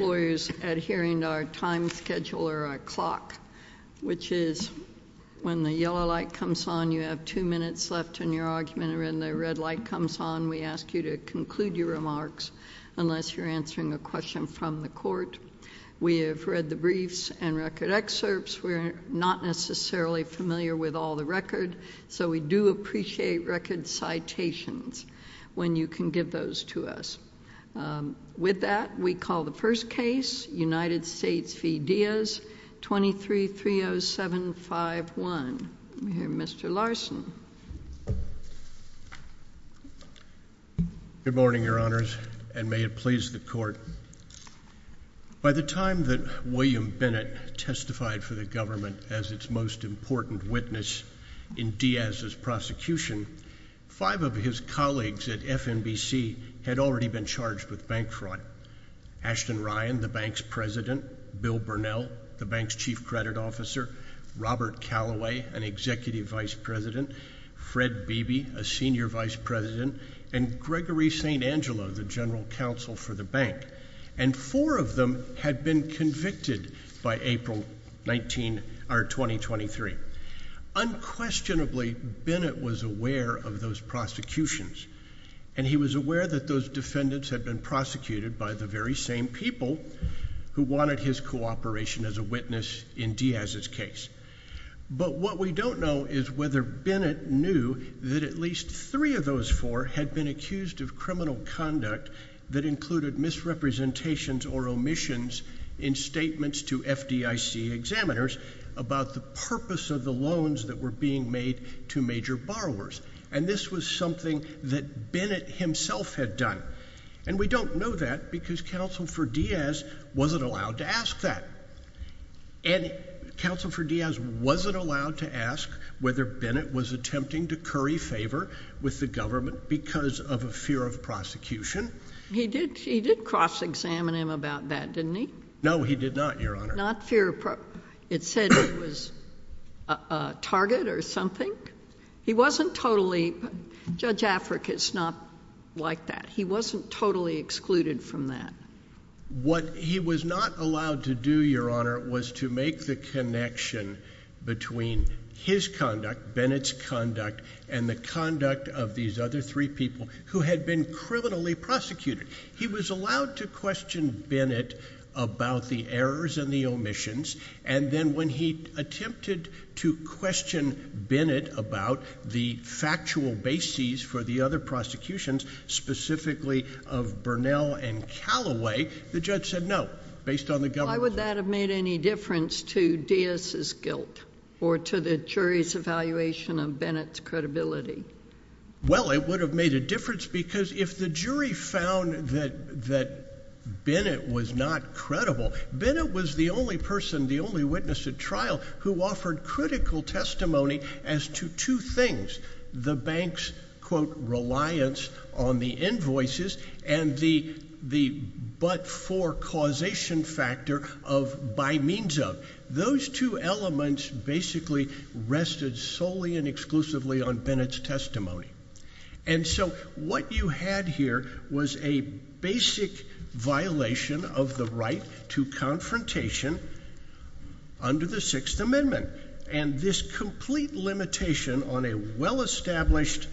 lawyers adhering to our time schedule or our clock, which is when the yellow light comes on you have two minutes left in your argument or when the red light comes on we ask you to conclude your remarks unless you're answering a question from the court. We have read the briefs and record excerpts. We're not necessarily familiar with all the record, so we do appreciate record citations when you can give those to us. With that, we call the first case United States v. Diaz, 23-30751. Mr. Larson. Good morning, your honors, and may it please the court. By the time that William Bennett testified for the government as its most important witness in Diaz's prosecution, five of his colleagues at FNBC had already been charged with bank fraud. Ashton Ryan, the bank's president, Bill Burnell, the bank's chief credit officer, Robert Calloway, an executive vice president, Fred Beebe, a senior vice president, and Gregory St. Angelo, the general counsel for the bank. And four of them had been convicted by April 19, or 2023. Unquestionably, Bennett was aware of those prosecutions, and he was aware that those defendants had been prosecuted by the very same people who wanted his cooperation as a witness in Diaz's case. But what we don't know is whether Bennett knew that at least three of those four had been accused of criminal conduct that included misrepresentations or omissions in statements to FDIC examiners about the purpose of the loans that were being made to major borrowers. And this was something that Bennett himself had done. And we don't know that because Counsel for Diaz wasn't allowed to ask that. And Counsel for Diaz wasn't allowed to ask whether Bennett was attempting to curry favor with the government because of a fear of prosecution. He did cross-examine him about that, didn't he? No, he did not, Your Honor. It said he was a target or something? Judge Afric is not like that. He wasn't totally excluded from that. What he was not allowed to do, Your Honor, was to make the connection between his conduct, Bennett's conduct, and the conduct of these other three people who had been criminally prosecuted. He was allowed to question Bennett about the errors and the omissions. And then when he attempted to question Bennett about the factual bases for the other prosecutions, specifically of Burnell and Calloway, the judge said no, based on the government. Would that have made any difference to Diaz's guilt or to the jury's evaluation of Bennett's credibility? Well, it would have made a difference because if the jury found that Bennett was not credible, Bennett was the only person, the only witness at trial, who offered critical testimony as to two things. The bank's, quote, reliance on the invoices and the but-for causation factor of by means of. Those two elements basically rested solely and exclusively on Bennett's testimony. And so what you had here was a basic violation of the right to confrontation under the Sixth Amendment. And this complete limitation on a well-established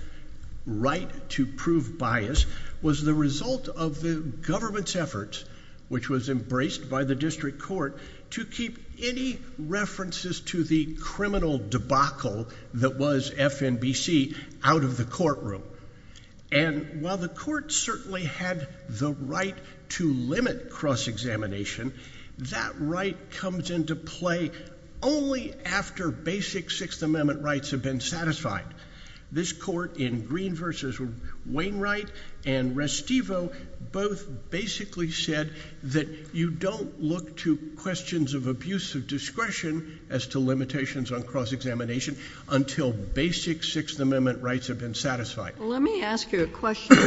right to prove bias was the result of the government's efforts, which was embraced by the district court, to keep any references to the criminal debacle that was FNBC out of the courtroom. And while the court certainly had the right to limit cross-examination, that right comes into play only after basic Sixth Amendment rights have been satisfied. This court in Green v. Wainwright and Restivo both basically said that you don't look to questions of abuse of discretion as to limitations on cross-examination until basic Sixth Amendment rights have been satisfied. Let me ask you a question.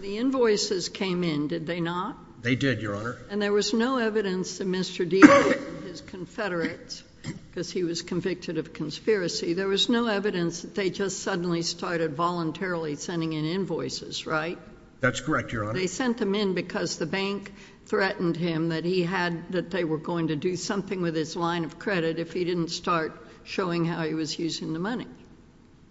The invoices came in, did they not? They did, Your Honor. And there was no evidence that Mr. Deaton, his confederates, because he was convicted of conspiracy, there was no evidence that they just suddenly started voluntarily sending in invoices, right? That's correct, Your Honor. They sent them in because the bank threatened him that he had, that they were going to do something with his line of credit if he didn't start showing how he was using the money.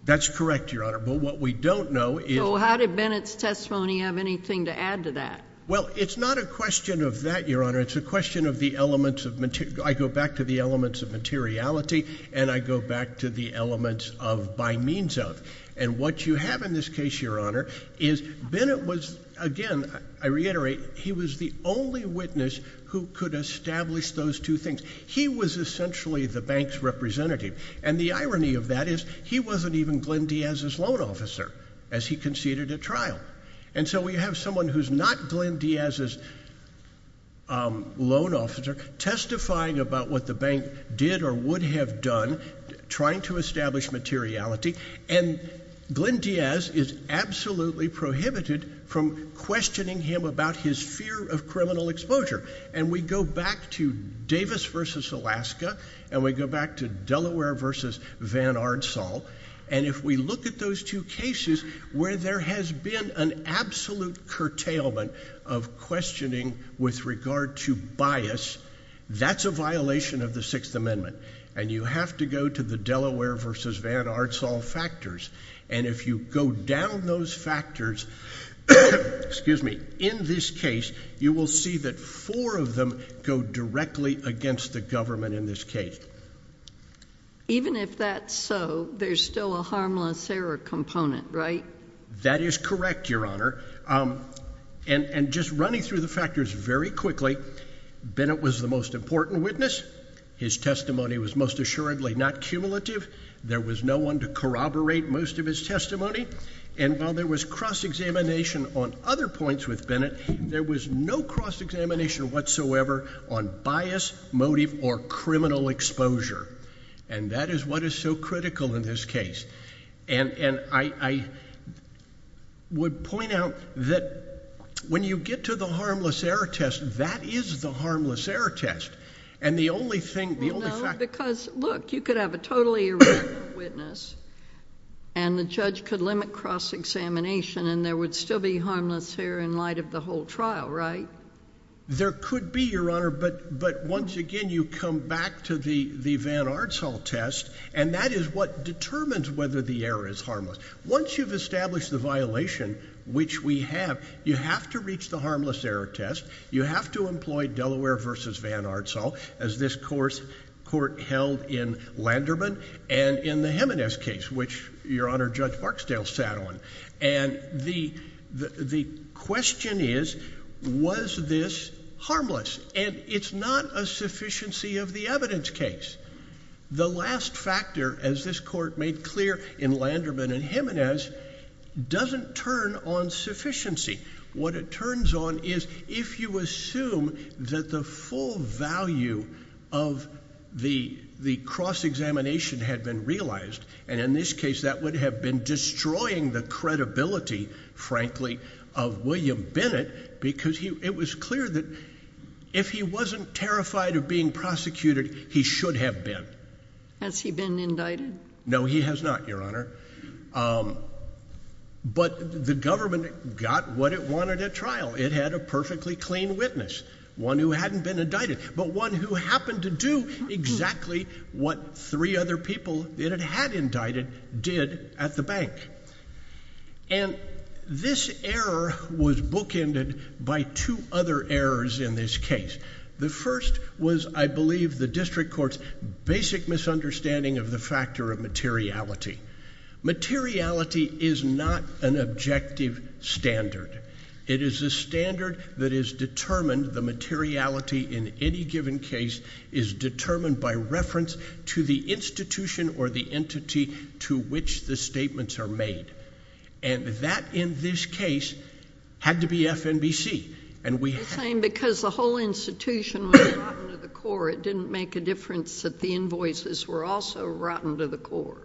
That's correct, Your Honor. But what we don't know is— So how did Bennett's testimony have anything to add to that? Well, it's not a question of that, Your Honor. It's a question of the elements of material—I go back to the elements of materiality, and I go back to the elements of by means of. And what you have in this case, Your Honor, is Bennett was, again, I reiterate, he was the only witness who could establish those two things. He was essentially the bank's representative. And the irony of that is he wasn't even Glenn Diaz's loan officer as he conceded at trial. And so we have someone who's not Glenn Diaz's loan officer testifying about what the bank did or would have done trying to establish materiality, and Glenn Diaz is absolutely prohibited from questioning him about his fear of criminal violence. And if we look at those two cases where there has been an absolute curtailment of questioning with regard to bias, that's a violation of the Sixth Amendment, and you have to go to the Delaware v. Van Artsall factors. And if you go down those factors, in this case, you will see that four of them go directly against the government in this case. Even if that's so, there's still a harmless error component, right? That is correct, Your Honor. And just running through the factors very quickly, Bennett was the most important witness. His testimony was most assuredly not cumulative. There was no one to corroborate most of his testimony. And while there was cross-examination on other points with Bennett, there was no cross-examination whatsoever on bias, motive, or criminal exposure. And that is what is so critical in this case. And I would point out that when you get to the harmless error test, that is the harmless error test. And the only thing, the only fact... No, because look, you could have a totally irrelevant witness, and the judge could limit cross-examination, and there would still be in light of the whole trial, right? There could be, Your Honor. But once again, you come back to the Van Artsall test, and that is what determines whether the error is harmless. Once you've established the violation, which we have, you have to reach the harmless error test. You have to employ Delaware v. Van Artsall, as this court held in Landerman and in the Jimenez case, which Your Honor, Judge Barksdale sat on. And the question is, was this harmless? And it's not a sufficiency of the evidence case. The last factor, as this court made clear in Landerman and Jimenez, doesn't turn on sufficiency. What it turns on is if you assume that the full value of the cross-examination had been realized, and in this case, that would have been destroying the credibility, frankly, of William Bennett, because it was clear that if he wasn't terrified of being prosecuted, he should have been. Has he been indicted? No, he has not, Your Honor. But the government got what it wanted at trial. It had a perfectly clean witness, one who hadn't been indicted, but one who happened to do exactly what three other people it had indicted did at the bank. And this error was bookended by two other errors in this case. The first was, I believe, the district court's basic misunderstanding of the factor of materiality. Materiality is not an objective standard. It is a standard that is determined, the materiality in any given case is determined by reference to the institution or the entity to which the statements are made. And that, in this case, had to be FNBC. I'm saying because the whole institution was rotten to the core. It didn't make a difference that the invoices were also rotten to the core.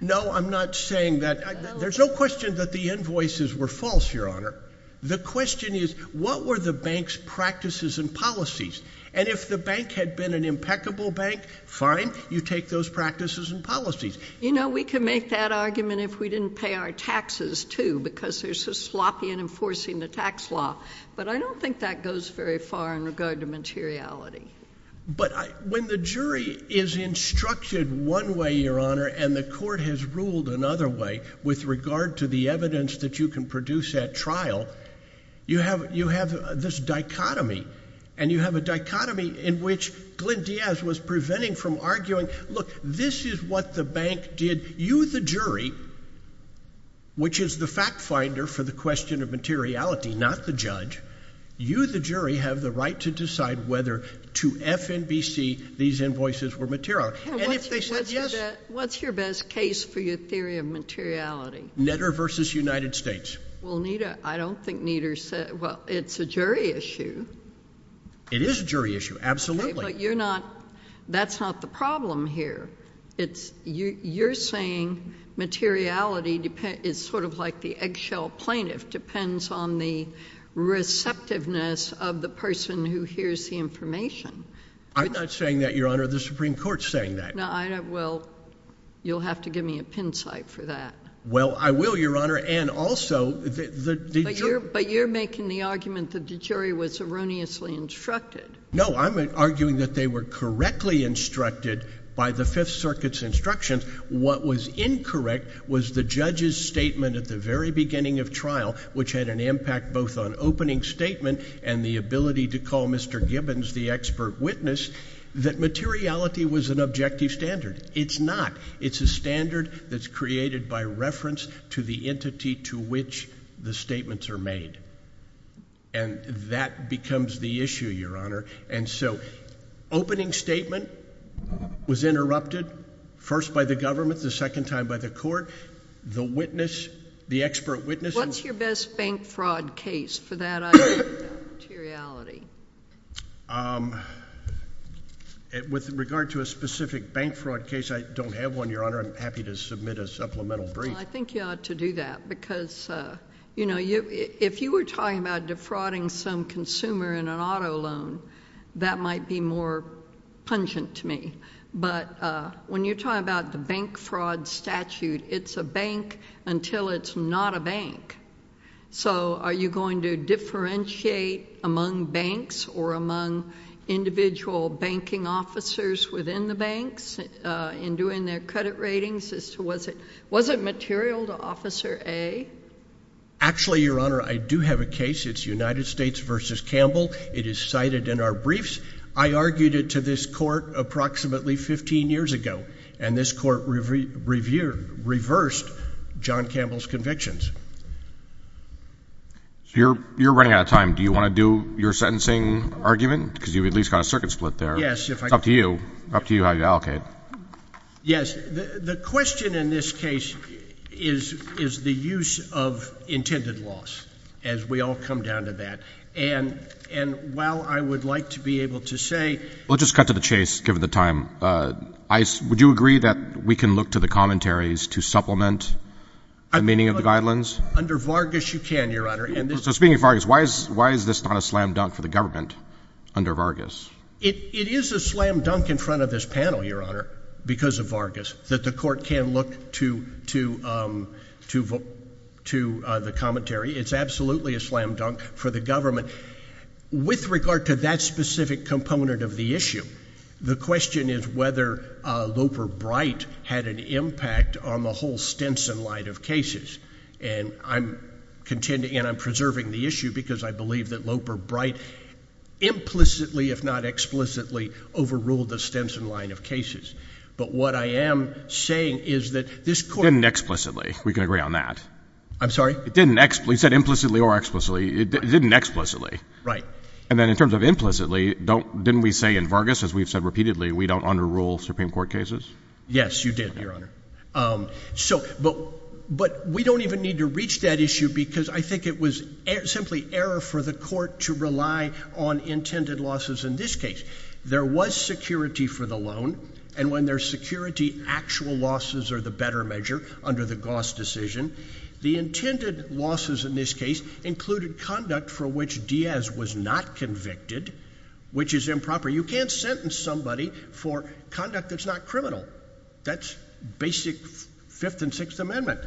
No, I'm not saying that. There's no question that the invoices were false, Your Honor. The question is, what were the bank's practices and policies? And if the bank had been an impeccable bank, fine, you take those practices and policies. You know, we can make that argument if we didn't pay our taxes, too, because they're so sloppy in enforcing the tax law. But I don't think that goes very far in regard to materiality. But when the jury is instructed one way, Your Honor, and the court has ruled another way with regard to the evidence that you can produce at trial, you have this dichotomy. And you have a dichotomy in which Glyn Diaz was preventing from arguing, look, this is what the bank did. You, the jury, which is the fact finder for the question of materiality, not the judge, you, the jury, have the right to decide whether to FNBC these invoices were material. And if they said yes— What's your best case for your theory of materiality? Netter v. United States. Well, I don't think Netter said—well, it's a jury issue. It is a jury issue, absolutely. But you're not—that's not the problem here. You're saying materiality is sort of like the shell plaintiff. Depends on the receptiveness of the person who hears the information. I'm not saying that, Your Honor. The Supreme Court's saying that. No, I don't—well, you'll have to give me a pin site for that. Well, I will, Your Honor. And also, the jury— But you're making the argument that the jury was erroneously instructed. No, I'm arguing that they were correctly instructed by the Fifth Circuit's instructions. What was incorrect was the judge's statement at the very beginning of trial, which had an impact both on opening statement and the ability to call Mr. Gibbons the expert witness, that materiality was an objective standard. It's not. It's a standard that's created by reference to the entity to which the statements are made. And that becomes the issue, Your Honor. And so opening statement was interrupted first by the government, the second time by the court. The witness—the expert witness— What's your best bank fraud case for that idea of materiality? With regard to a specific bank fraud case, I don't have one, Your Honor. I'm happy to submit a supplemental brief. Well, I think you ought to do that because, you know, if you were talking about defrauding some consumer in an auto loan, that might be more pungent to me. But when you talk about the bank fraud statute, it's a bank until it's not a bank. So are you going to differentiate among banks or among individual banking officers within the banks in doing their credit ratings as to was it—was it material to Officer A? Actually, Your Honor, I do have a case. It's United States v. Campbell. It is cited in our briefs. I argued it to this court approximately 15 years ago, and this court reversed John Campbell's convictions. So you're running out of time. Do you want to do your sentencing argument? Because you've at least got a circuit split there. Yes, if I— It's up to you. Up to you how you allocate. Yes. The question in this case is the use of intended loss, as we all come down to that. And while I would like to be able to say— We'll just cut to the chase, given the time. Would you agree that we can look to the commentaries to supplement the meaning of the guidelines? Under Vargas, you can, Your Honor. So speaking of Vargas, why is this not a slam dunk for the government under Vargas? It is a slam dunk in front of this panel, Your Honor, because of Vargas, that the court can look to the commentary. It's absolutely a slam dunk for the government. With regard to that specific component of the issue, the question is whether Loper-Bright had an impact on the whole Stinson light of cases. And I'm contending—and I'm explicitly—overruled the Stinson line of cases. But what I am saying is that this court— Didn't explicitly. We can agree on that. I'm sorry? It didn't explicitly. It said implicitly or explicitly. It didn't explicitly. Right. And then in terms of implicitly, didn't we say in Vargas, as we've said repeatedly, we don't underrule Supreme Court cases? Yes, you did, Your Honor. But we don't even need to reach that issue because I think it was simply error for the court to rely on intended losses in this case. There was security for the loan, and when there's security, actual losses are the better measure under the Goss decision. The intended losses in this case included conduct for which Diaz was not convicted, which is improper. You can't sentence somebody for conduct that's not criminal. That's basic Fifth and Sixth Amendment.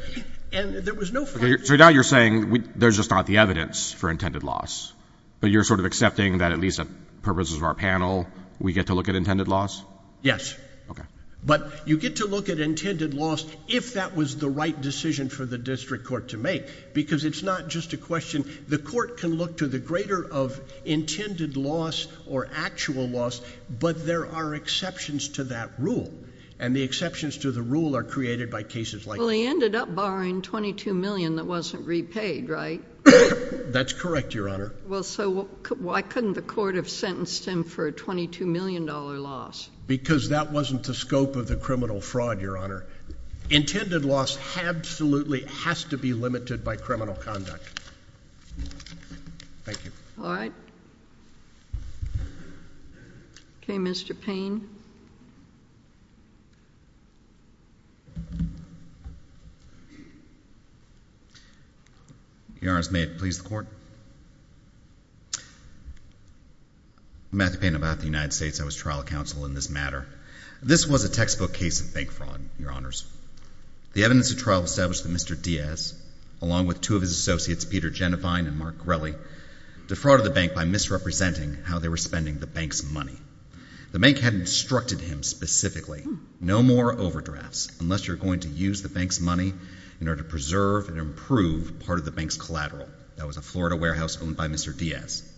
And there was no— So now you're saying there's just not the evidence for intended loss, but you're sort of accepting that at least the purposes of our panel, we get to look at intended loss? Yes. Okay. But you get to look at intended loss if that was the right decision for the district court to make, because it's not just a question. The court can look to the greater of intended loss or actual loss, but there are exceptions to that rule. And the exceptions to the rule are created by cases like— He ended up borrowing $22 million that wasn't repaid, right? That's correct, Your Honor. Well, so why couldn't the court have sentenced him for a $22 million loss? Because that wasn't the scope of the criminal fraud, Your Honor. Intended loss absolutely has to be limited by criminal conduct. Thank you. All right. Okay, Mr. Payne. Your Honors, may it please the Court? I'm Matthew Payne. I'm out of the United States. I was trial counsel in this matter. This was a textbook case of bank fraud, Your Honors. The evidence of trial established that Mr. Diaz, along with two of his associates, Peter Genovine and Mark Grelley, defrauded the bank by misrepresenting how they were spending the bank's money. The bank had instructed him specifically, no more overdrafts unless you're going to use the bank's money in order to preserve and improve part of the bank's collateral. That was a Florida warehouse owned by Mr. Diaz.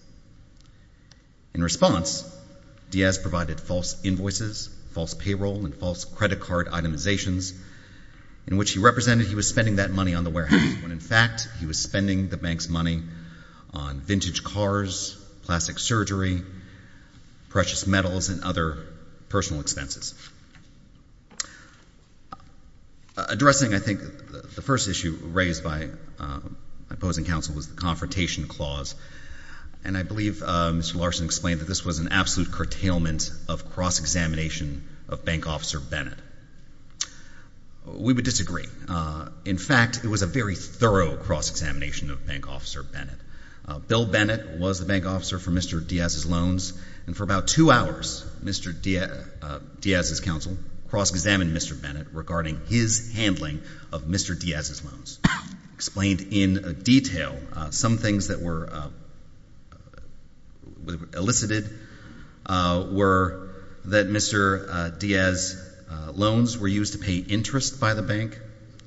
In response, Diaz provided false invoices, false payroll, and false credit card itemizations in which he represented he was spending that money on the warehouse when, in fact, he was spending the bank's money on vintage cars, plastic surgery, precious metals, and other personal expenses. Addressing, I think, the first issue raised by my opposing counsel was the Confrontation Clause, and I believe Mr. Larson explained that this was an absolute curtailment of cross-examination of Bank Officer Bennett. We would disagree. In fact, it was a very thorough cross-examination of Bank Officer Bennett. Bill Bennett was the Bank Officer for Mr. Diaz's loans, and for about two hours, Mr. Diaz's counsel cross-examined Mr. Bennett regarding his handling of Mr. Diaz's loans. Explained in detail, some things that were elicited were that Mr. Diaz's loans were used to pay interest by the bank,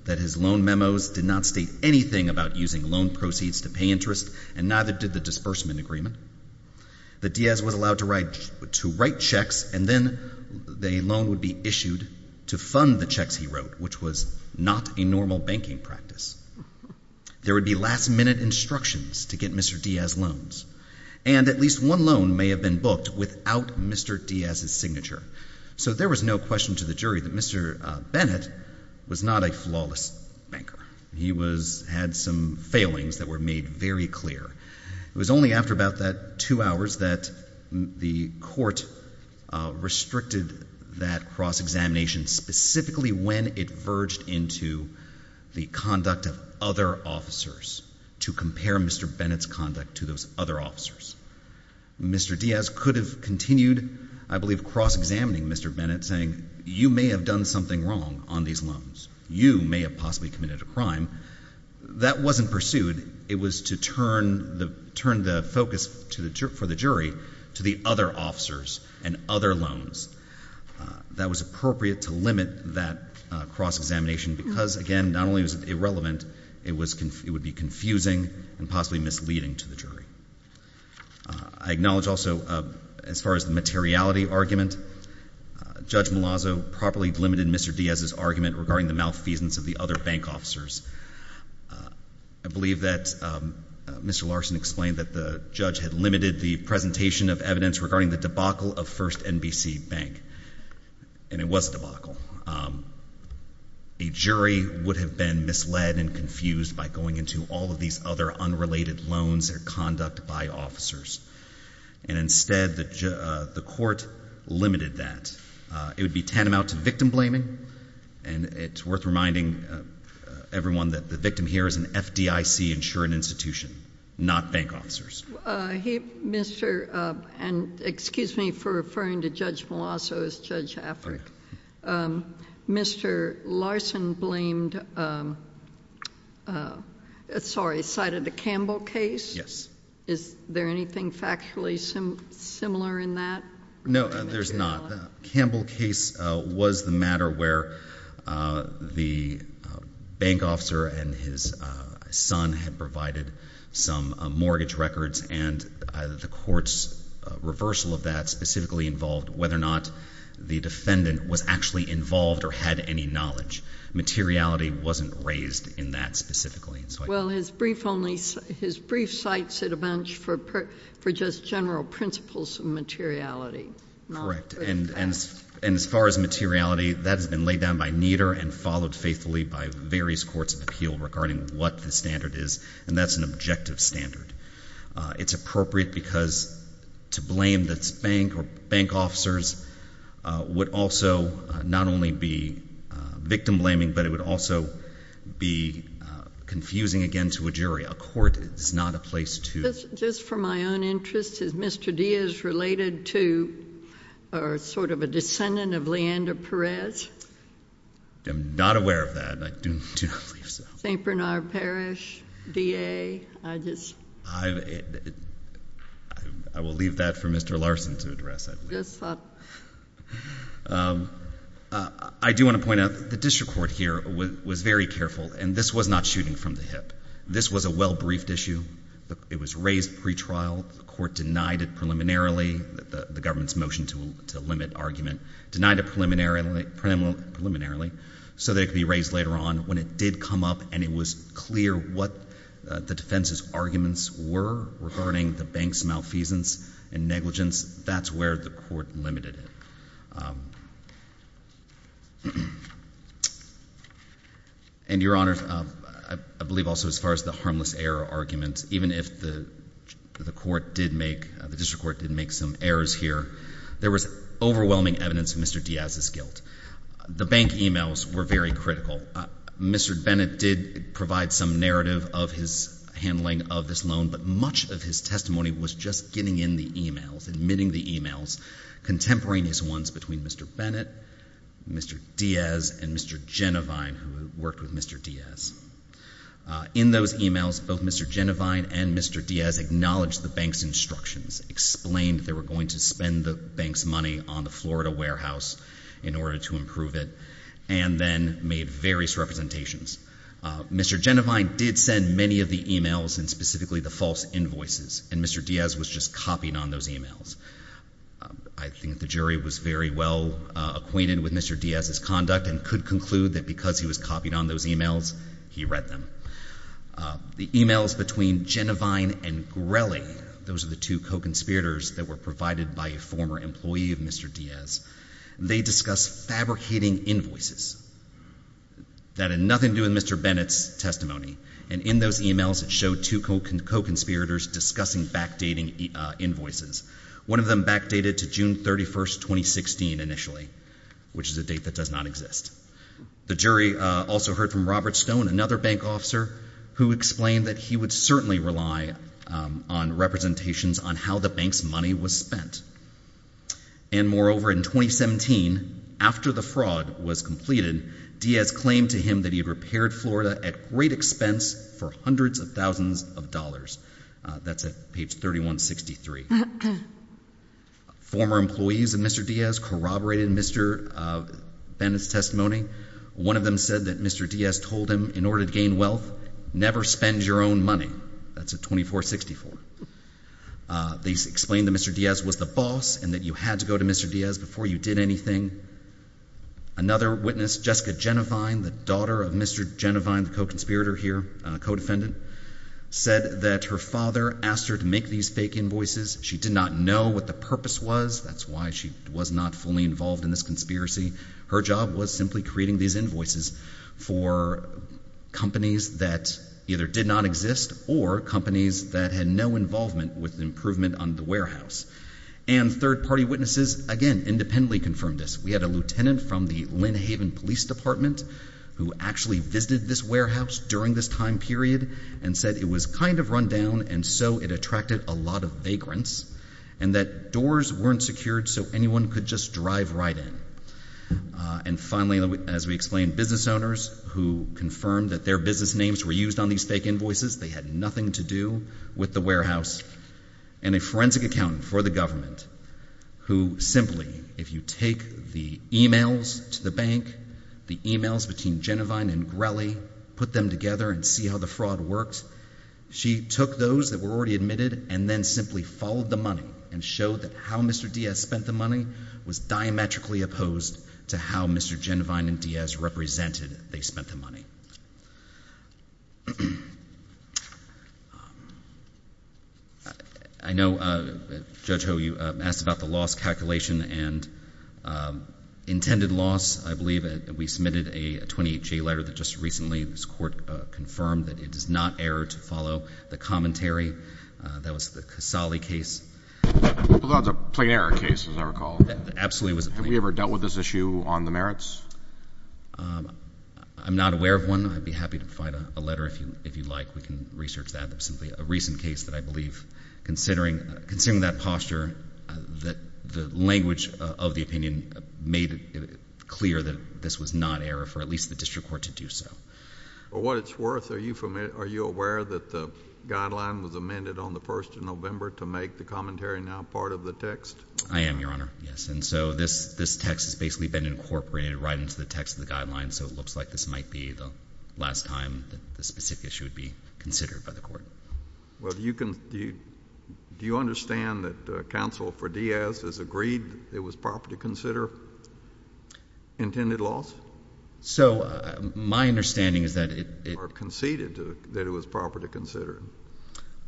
that his loan memos did not state anything about using loan proceeds to pay interest, and neither did the disbursement agreement, that Diaz was allowed to write checks, and then the loan would be issued to fund the checks he wrote, which was not a normal banking practice. There would be last-minute instructions to get Mr. Diaz's loans, and at least one loan may have been booked without Mr. Diaz's signature. So there was no question to the jury that Mr. Bennett was not a flawless banker. He had some failings that were made very clear. It was only after about that two hours that the court restricted that cross-examination, specifically when it verged into the conduct of other officers, to compare Mr. Bennett's conduct to those other officers. Mr. Diaz could have continued, I believe, cross-examining Mr. Bennett, saying, you may have done something wrong on these loans. You may have possibly committed a crime. That wasn't pursued. It was to turn the focus for the jury to the other officers and other loans. That was appropriate to limit that cross-examination because, again, not only was it irrelevant, it would be confusing and possibly misleading to the jury. I acknowledge also, as far as the materiality argument, Judge Malazzo properly delimited Mr. Diaz's argument regarding the malfeasance of the other bank officers. I believe that Mr. Larson explained that the judge had limited the presentation of evidence regarding the debacle of FirstNBC Bank, and it was debacle. A jury would have been misled and confused by going into all of these other unrelated loans or conduct by officers. Instead, the court limited that. It would be tantamount to victim blaming. It's worth reminding everyone that the victim here is an FDIC insured institution, not bank officers. Excuse me for referring to Judge Malazzo as Judge Afric. Mr. Larson blamed the Campbell case. Yes. Is there anything factually similar in that? No, there's not. Campbell case was the matter where the bank officer and his son had provided some mortgage records, and the court's reversal of that specifically involved whether or not the defendant was actually involved or had any knowledge. Materiality wasn't raised in that specifically. Well, his brief only, his brief cites it a bunch for just general principles of materiality. Correct. And as far as materiality, that has been laid down by Nieder and followed faithfully by various courts of appeal regarding what the standard is, and that's an objective standard. It's appropriate because to blame the bank or bank officers would also not only be victim blaming, but it would also be confusing again to a jury. A court is not a place to... Just for my own interest, is Mr. Diaz related to or sort of a descendant of Leander Perez? I'm not aware of that. I do not believe so. St. Bernard Parish DA? I just... I will leave that for Mr. Larson to address. Yes, sir. I do want to point out the district court here was very careful, and this was not shooting from the hip. This was a well-briefed issue. It was raised pretrial. The court denied it preliminarily. The government's motion to limit argument denied it preliminarily so that it could be raised later on. When it did come up and it was clear what the defense's arguments were regarding the bank's malfeasance and negligence, that's where the court limited it. Your Honor, I believe also as far as the harmless error argument, even if the district court did make some errors here, there was overwhelming evidence of Mr. Diaz's guilt. The bank emails were very critical. Mr. Bennett did provide some narrative of his handling of this loan, but much of his testimony was just getting in the emails, admitting the emails, contemporaneous ones between Mr. Bennett, Mr. Diaz, and Mr. Genovine, who worked with Mr. Diaz. In those emails, both Mr. Genovine and Mr. Diaz acknowledged the bank's instructions, explained they were going to spend the bank's money on the Florida warehouse in order to improve it, and then made various representations. Mr. Genovine did send many of the emails, and specifically the false invoices, and Mr. Diaz was just copying on those emails. I think the jury was very well acquainted with Mr. Diaz's conduct and could conclude that because he was copying on those emails, he read them. The emails between Genovine and Grelli, those are the two co-conspirators that were provided by a former employee of Mr. Diaz, they discussed fabricating invoices that had nothing to do with Mr. Bennett's testimony. And in those emails, it showed two co-conspirators discussing backdating invoices. One of them backdated to June 31, 2016, initially, which is a date that does not exist. The jury also heard from Robert Stone, another bank officer, who explained that he would certainly rely on representations on how the bank's money was spent. And moreover, in 2017, after the fraud was completed, Diaz claimed to him that he had repaired Florida at great expense for hundreds of thousands of dollars. That's at page 3163. Former employees of Mr. Diaz corroborated Mr. Bennett's testimony. One of them said that Mr. Diaz told him, in order to gain wealth, never spend your own money. That's at 2464. They explained that Mr. Diaz was the boss and that you had to go to Mr. Diaz before you did anything. Another witness, Jessica Jenevine, the daughter of Mr. Jenevine, the co-conspirator here, co-defendant, said that her father asked her to make these fake invoices. She did not know what the purpose was. That's why she was not fully involved in this conspiracy. Her job was simply creating these invoices for companies that either did not exist or companies that had no involvement with the improvement on the warehouse. And third-party witnesses, again, independently confirmed this. We had a lieutenant from the Lynn Haven Police Department who actually visited this warehouse during this time period and said it was kind of run down and so it attracted a lot of vagrants and that doors weren't secured so anyone could just drive right in. And finally, as we explained, business owners who confirmed that their business names were used on these fake invoices, they had nothing to do with the warehouse, and a forensic accountant for the government who simply, if you take the emails to the bank, the emails between Jenevine and Grelli, put them together and see how the fraud works, she took those that were already admitted and then simply followed the money and showed that how Mr. Diaz spent the money was diametrically opposed to how Mr. Jenevine and Diaz represented they spent the money. I know, Judge Ho, you asked about the loss calculation and intended loss. I believe we submitted a 28J letter that just recently this court confirmed that it is not error to follow the commentary that was the Casale case. That's a plain error case, as I recall. Absolutely. Have we ever dealt with this issue on the merits? I'm not aware of one. I'd be happy to provide a letter if you'd like. We can research that. It's simply a recent case that I believe, considering that posture, the language of the opinion made it clear that this was not error for at least the district court to do so. For what it's worth, are you aware that the guideline was amended on the 1st of November to make the commentary now part of the text? I am, Your Honor, yes. And so this text has basically been incorporated right into the guideline, so it looks like this might be the last time that this specific issue would be considered by the court. Well, do you understand that counsel for Diaz has agreed it was proper to consider intended loss? So my understanding is that it... Or conceded that it was proper to consider.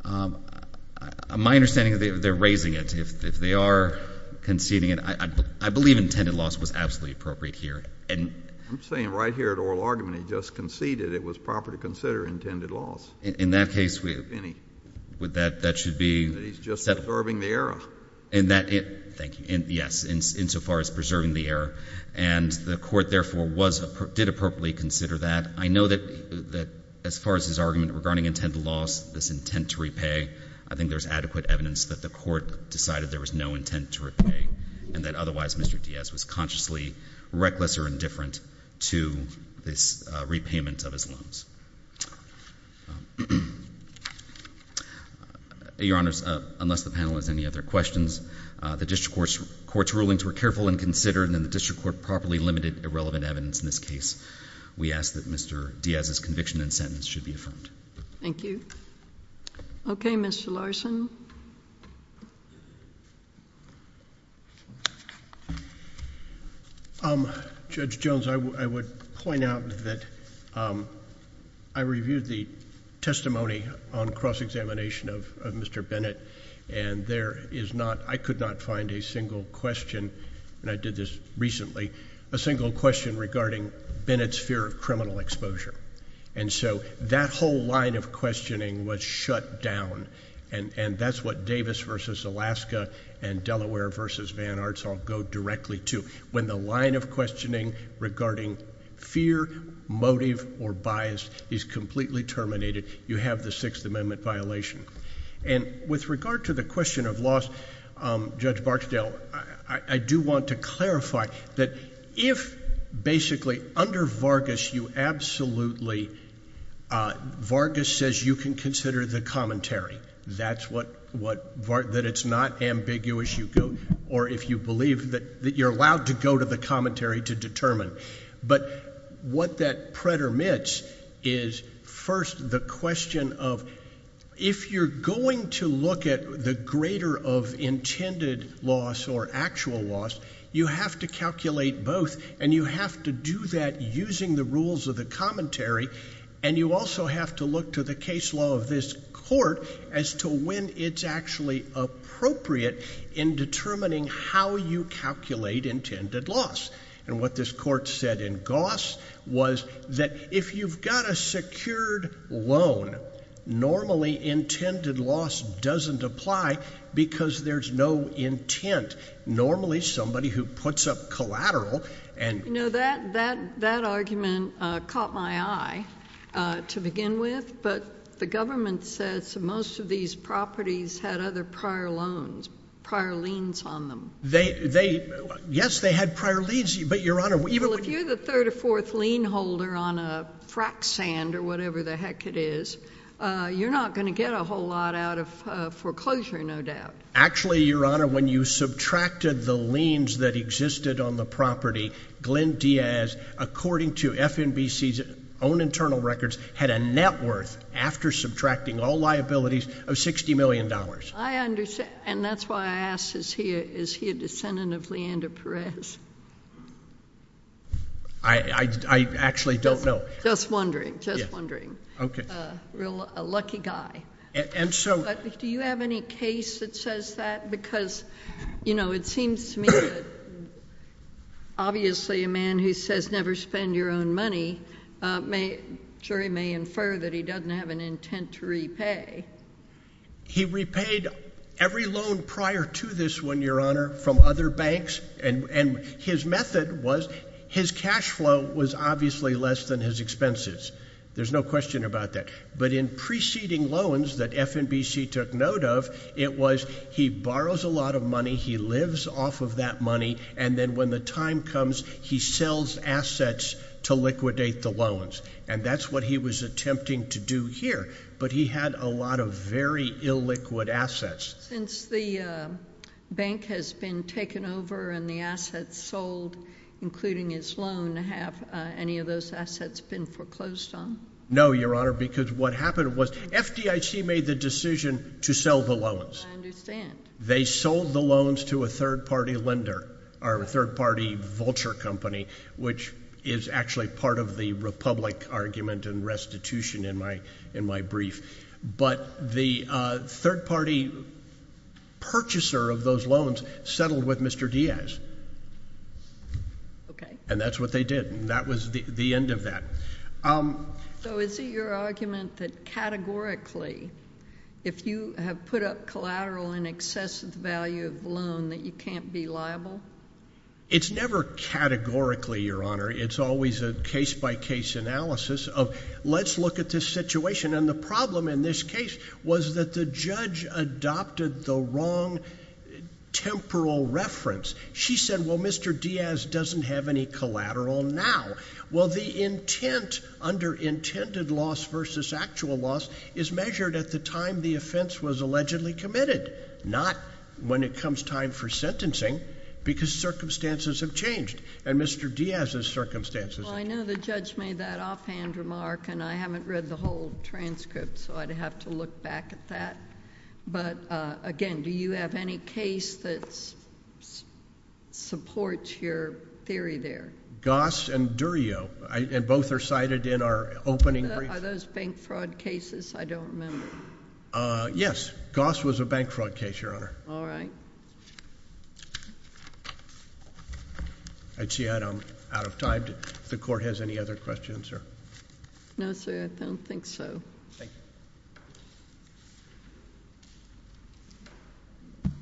My understanding is that they're raising it. If they are conceding it, I believe intended loss was absolutely appropriate here. I'm saying right here at oral argument he just conceded it was proper to consider intended loss. In that case, that should be settled. He's just preserving the error. Thank you. Yes, insofar as preserving the error. And the court therefore did appropriately consider that. I know that as far as his argument regarding intended loss, this intent to repay, I think there's adequate evidence that the court decided there was no intent to repay and that otherwise Mr. Diaz was consciously reckless or indifferent to this repayment of his loans. Your Honors, unless the panel has any other questions, the district court's rulings were careful and considered and the district court properly limited irrelevant evidence in this case. We ask that Mr. Diaz's conviction and sentence should be affirmed. Thank you. Okay, Mr. Larson. Judge Jones, I would point out that I reviewed the testimony on cross-examination of Mr. Bennett and there is not, I could not find a single question, and I did this recently, a single question regarding Bennett's fear of criminal exposure. And so that whole line of questioning was shut down. And that's what Davis v. Alaska and Delaware v. Van Arts all go directly to. When the line of questioning regarding fear, motive, or bias is completely terminated, you have the Sixth Amendment violation. And with regard to the question of loss, Judge Barksdale, I do want to clarify that if basically under Vargas you absolutely, Vargas says you can consider the commentary. That's what, that it's not ambiguous you go, or if you believe that you're allowed to go to the commentary to determine. But what that pretermits is first the question of, if you're going to look at the greater of intended loss or actual loss, you have to calculate both and you have to do that using the rules of commentary. And you also have to look to the case law of this court as to when it's actually appropriate in determining how you calculate intended loss. And what this court said in Goss was that if you've got a secured loan, normally intended loss doesn't apply because there's no intent. Normally somebody who puts up collateral and— That argument caught my eye to begin with, but the government says most of these properties had other prior loans, prior liens on them. Yes, they had prior liens, but Your Honor— If you're the third or fourth lien holder on a frac sand or whatever the heck it is, you're not going to get a whole lot out of foreclosure, no doubt. Actually, Your Honor, when you subtracted the liens that existed on the property, Glenn Diaz, according to FNBC's own internal records, had a net worth after subtracting all liabilities of $60 million. I understand. And that's why I asked, is he a descendant of Leander Perez? I actually don't know. Just wondering, just wondering. Okay. A lucky guy. And so— Do you have any case that says that? Because, you know, it seems to me that obviously a man who says never spend your own money, jury may infer that he doesn't have an intent to repay. He repaid every loan prior to this one, Your Honor, from other banks, and his method was his cash flow was obviously less than his expenses. There's no question about that. But in preceding loans that FNBC took note of, it was he borrows a lot of money, he lives off of that money, and then when the time comes, he sells assets to liquidate the loans. And that's what he was attempting to do here. But he had a lot of very illiquid assets. Since the bank has been taken over and the assets sold, including his loan, have any of those assets been foreclosed on? No, Your Honor, because what happened was FDIC made the decision to sell the loans. I understand. They sold the loans to a third-party lender, or a third-party vulture company, which is actually part of the Republic argument and restitution in my brief. But the third-party purchaser of those loans settled with Mr. Diaz. Okay. And that's what they did. And that was the end of that. So is it your argument that categorically, if you have put up collateral in excess of the value of the loan, that you can't be liable? It's never categorically, Your Honor. It's always a case-by-case analysis of, let's look at this situation. And the problem in this case was that the judge adopted the wrong temporal reference. She said, well, Mr. Diaz doesn't have any collateral now. Well, the intent under intended loss versus actual loss is measured at the time the offense was allegedly committed, not when it comes time for sentencing, because circumstances have changed, and Mr. Diaz's circumstances have changed. Well, I know the judge made that offhand remark, and I haven't read the whole transcript, so I'd have to look back at that. But again, do you have any case that supports your theory there? Goss and Durio, and both are cited in our opening brief. Are those bank fraud cases? I don't remember. Yes. Goss was a bank fraud case, Your Honor. All right. I'd say I'm out of time. If the Court has any other questions? No, sir, I don't think so. Thank you.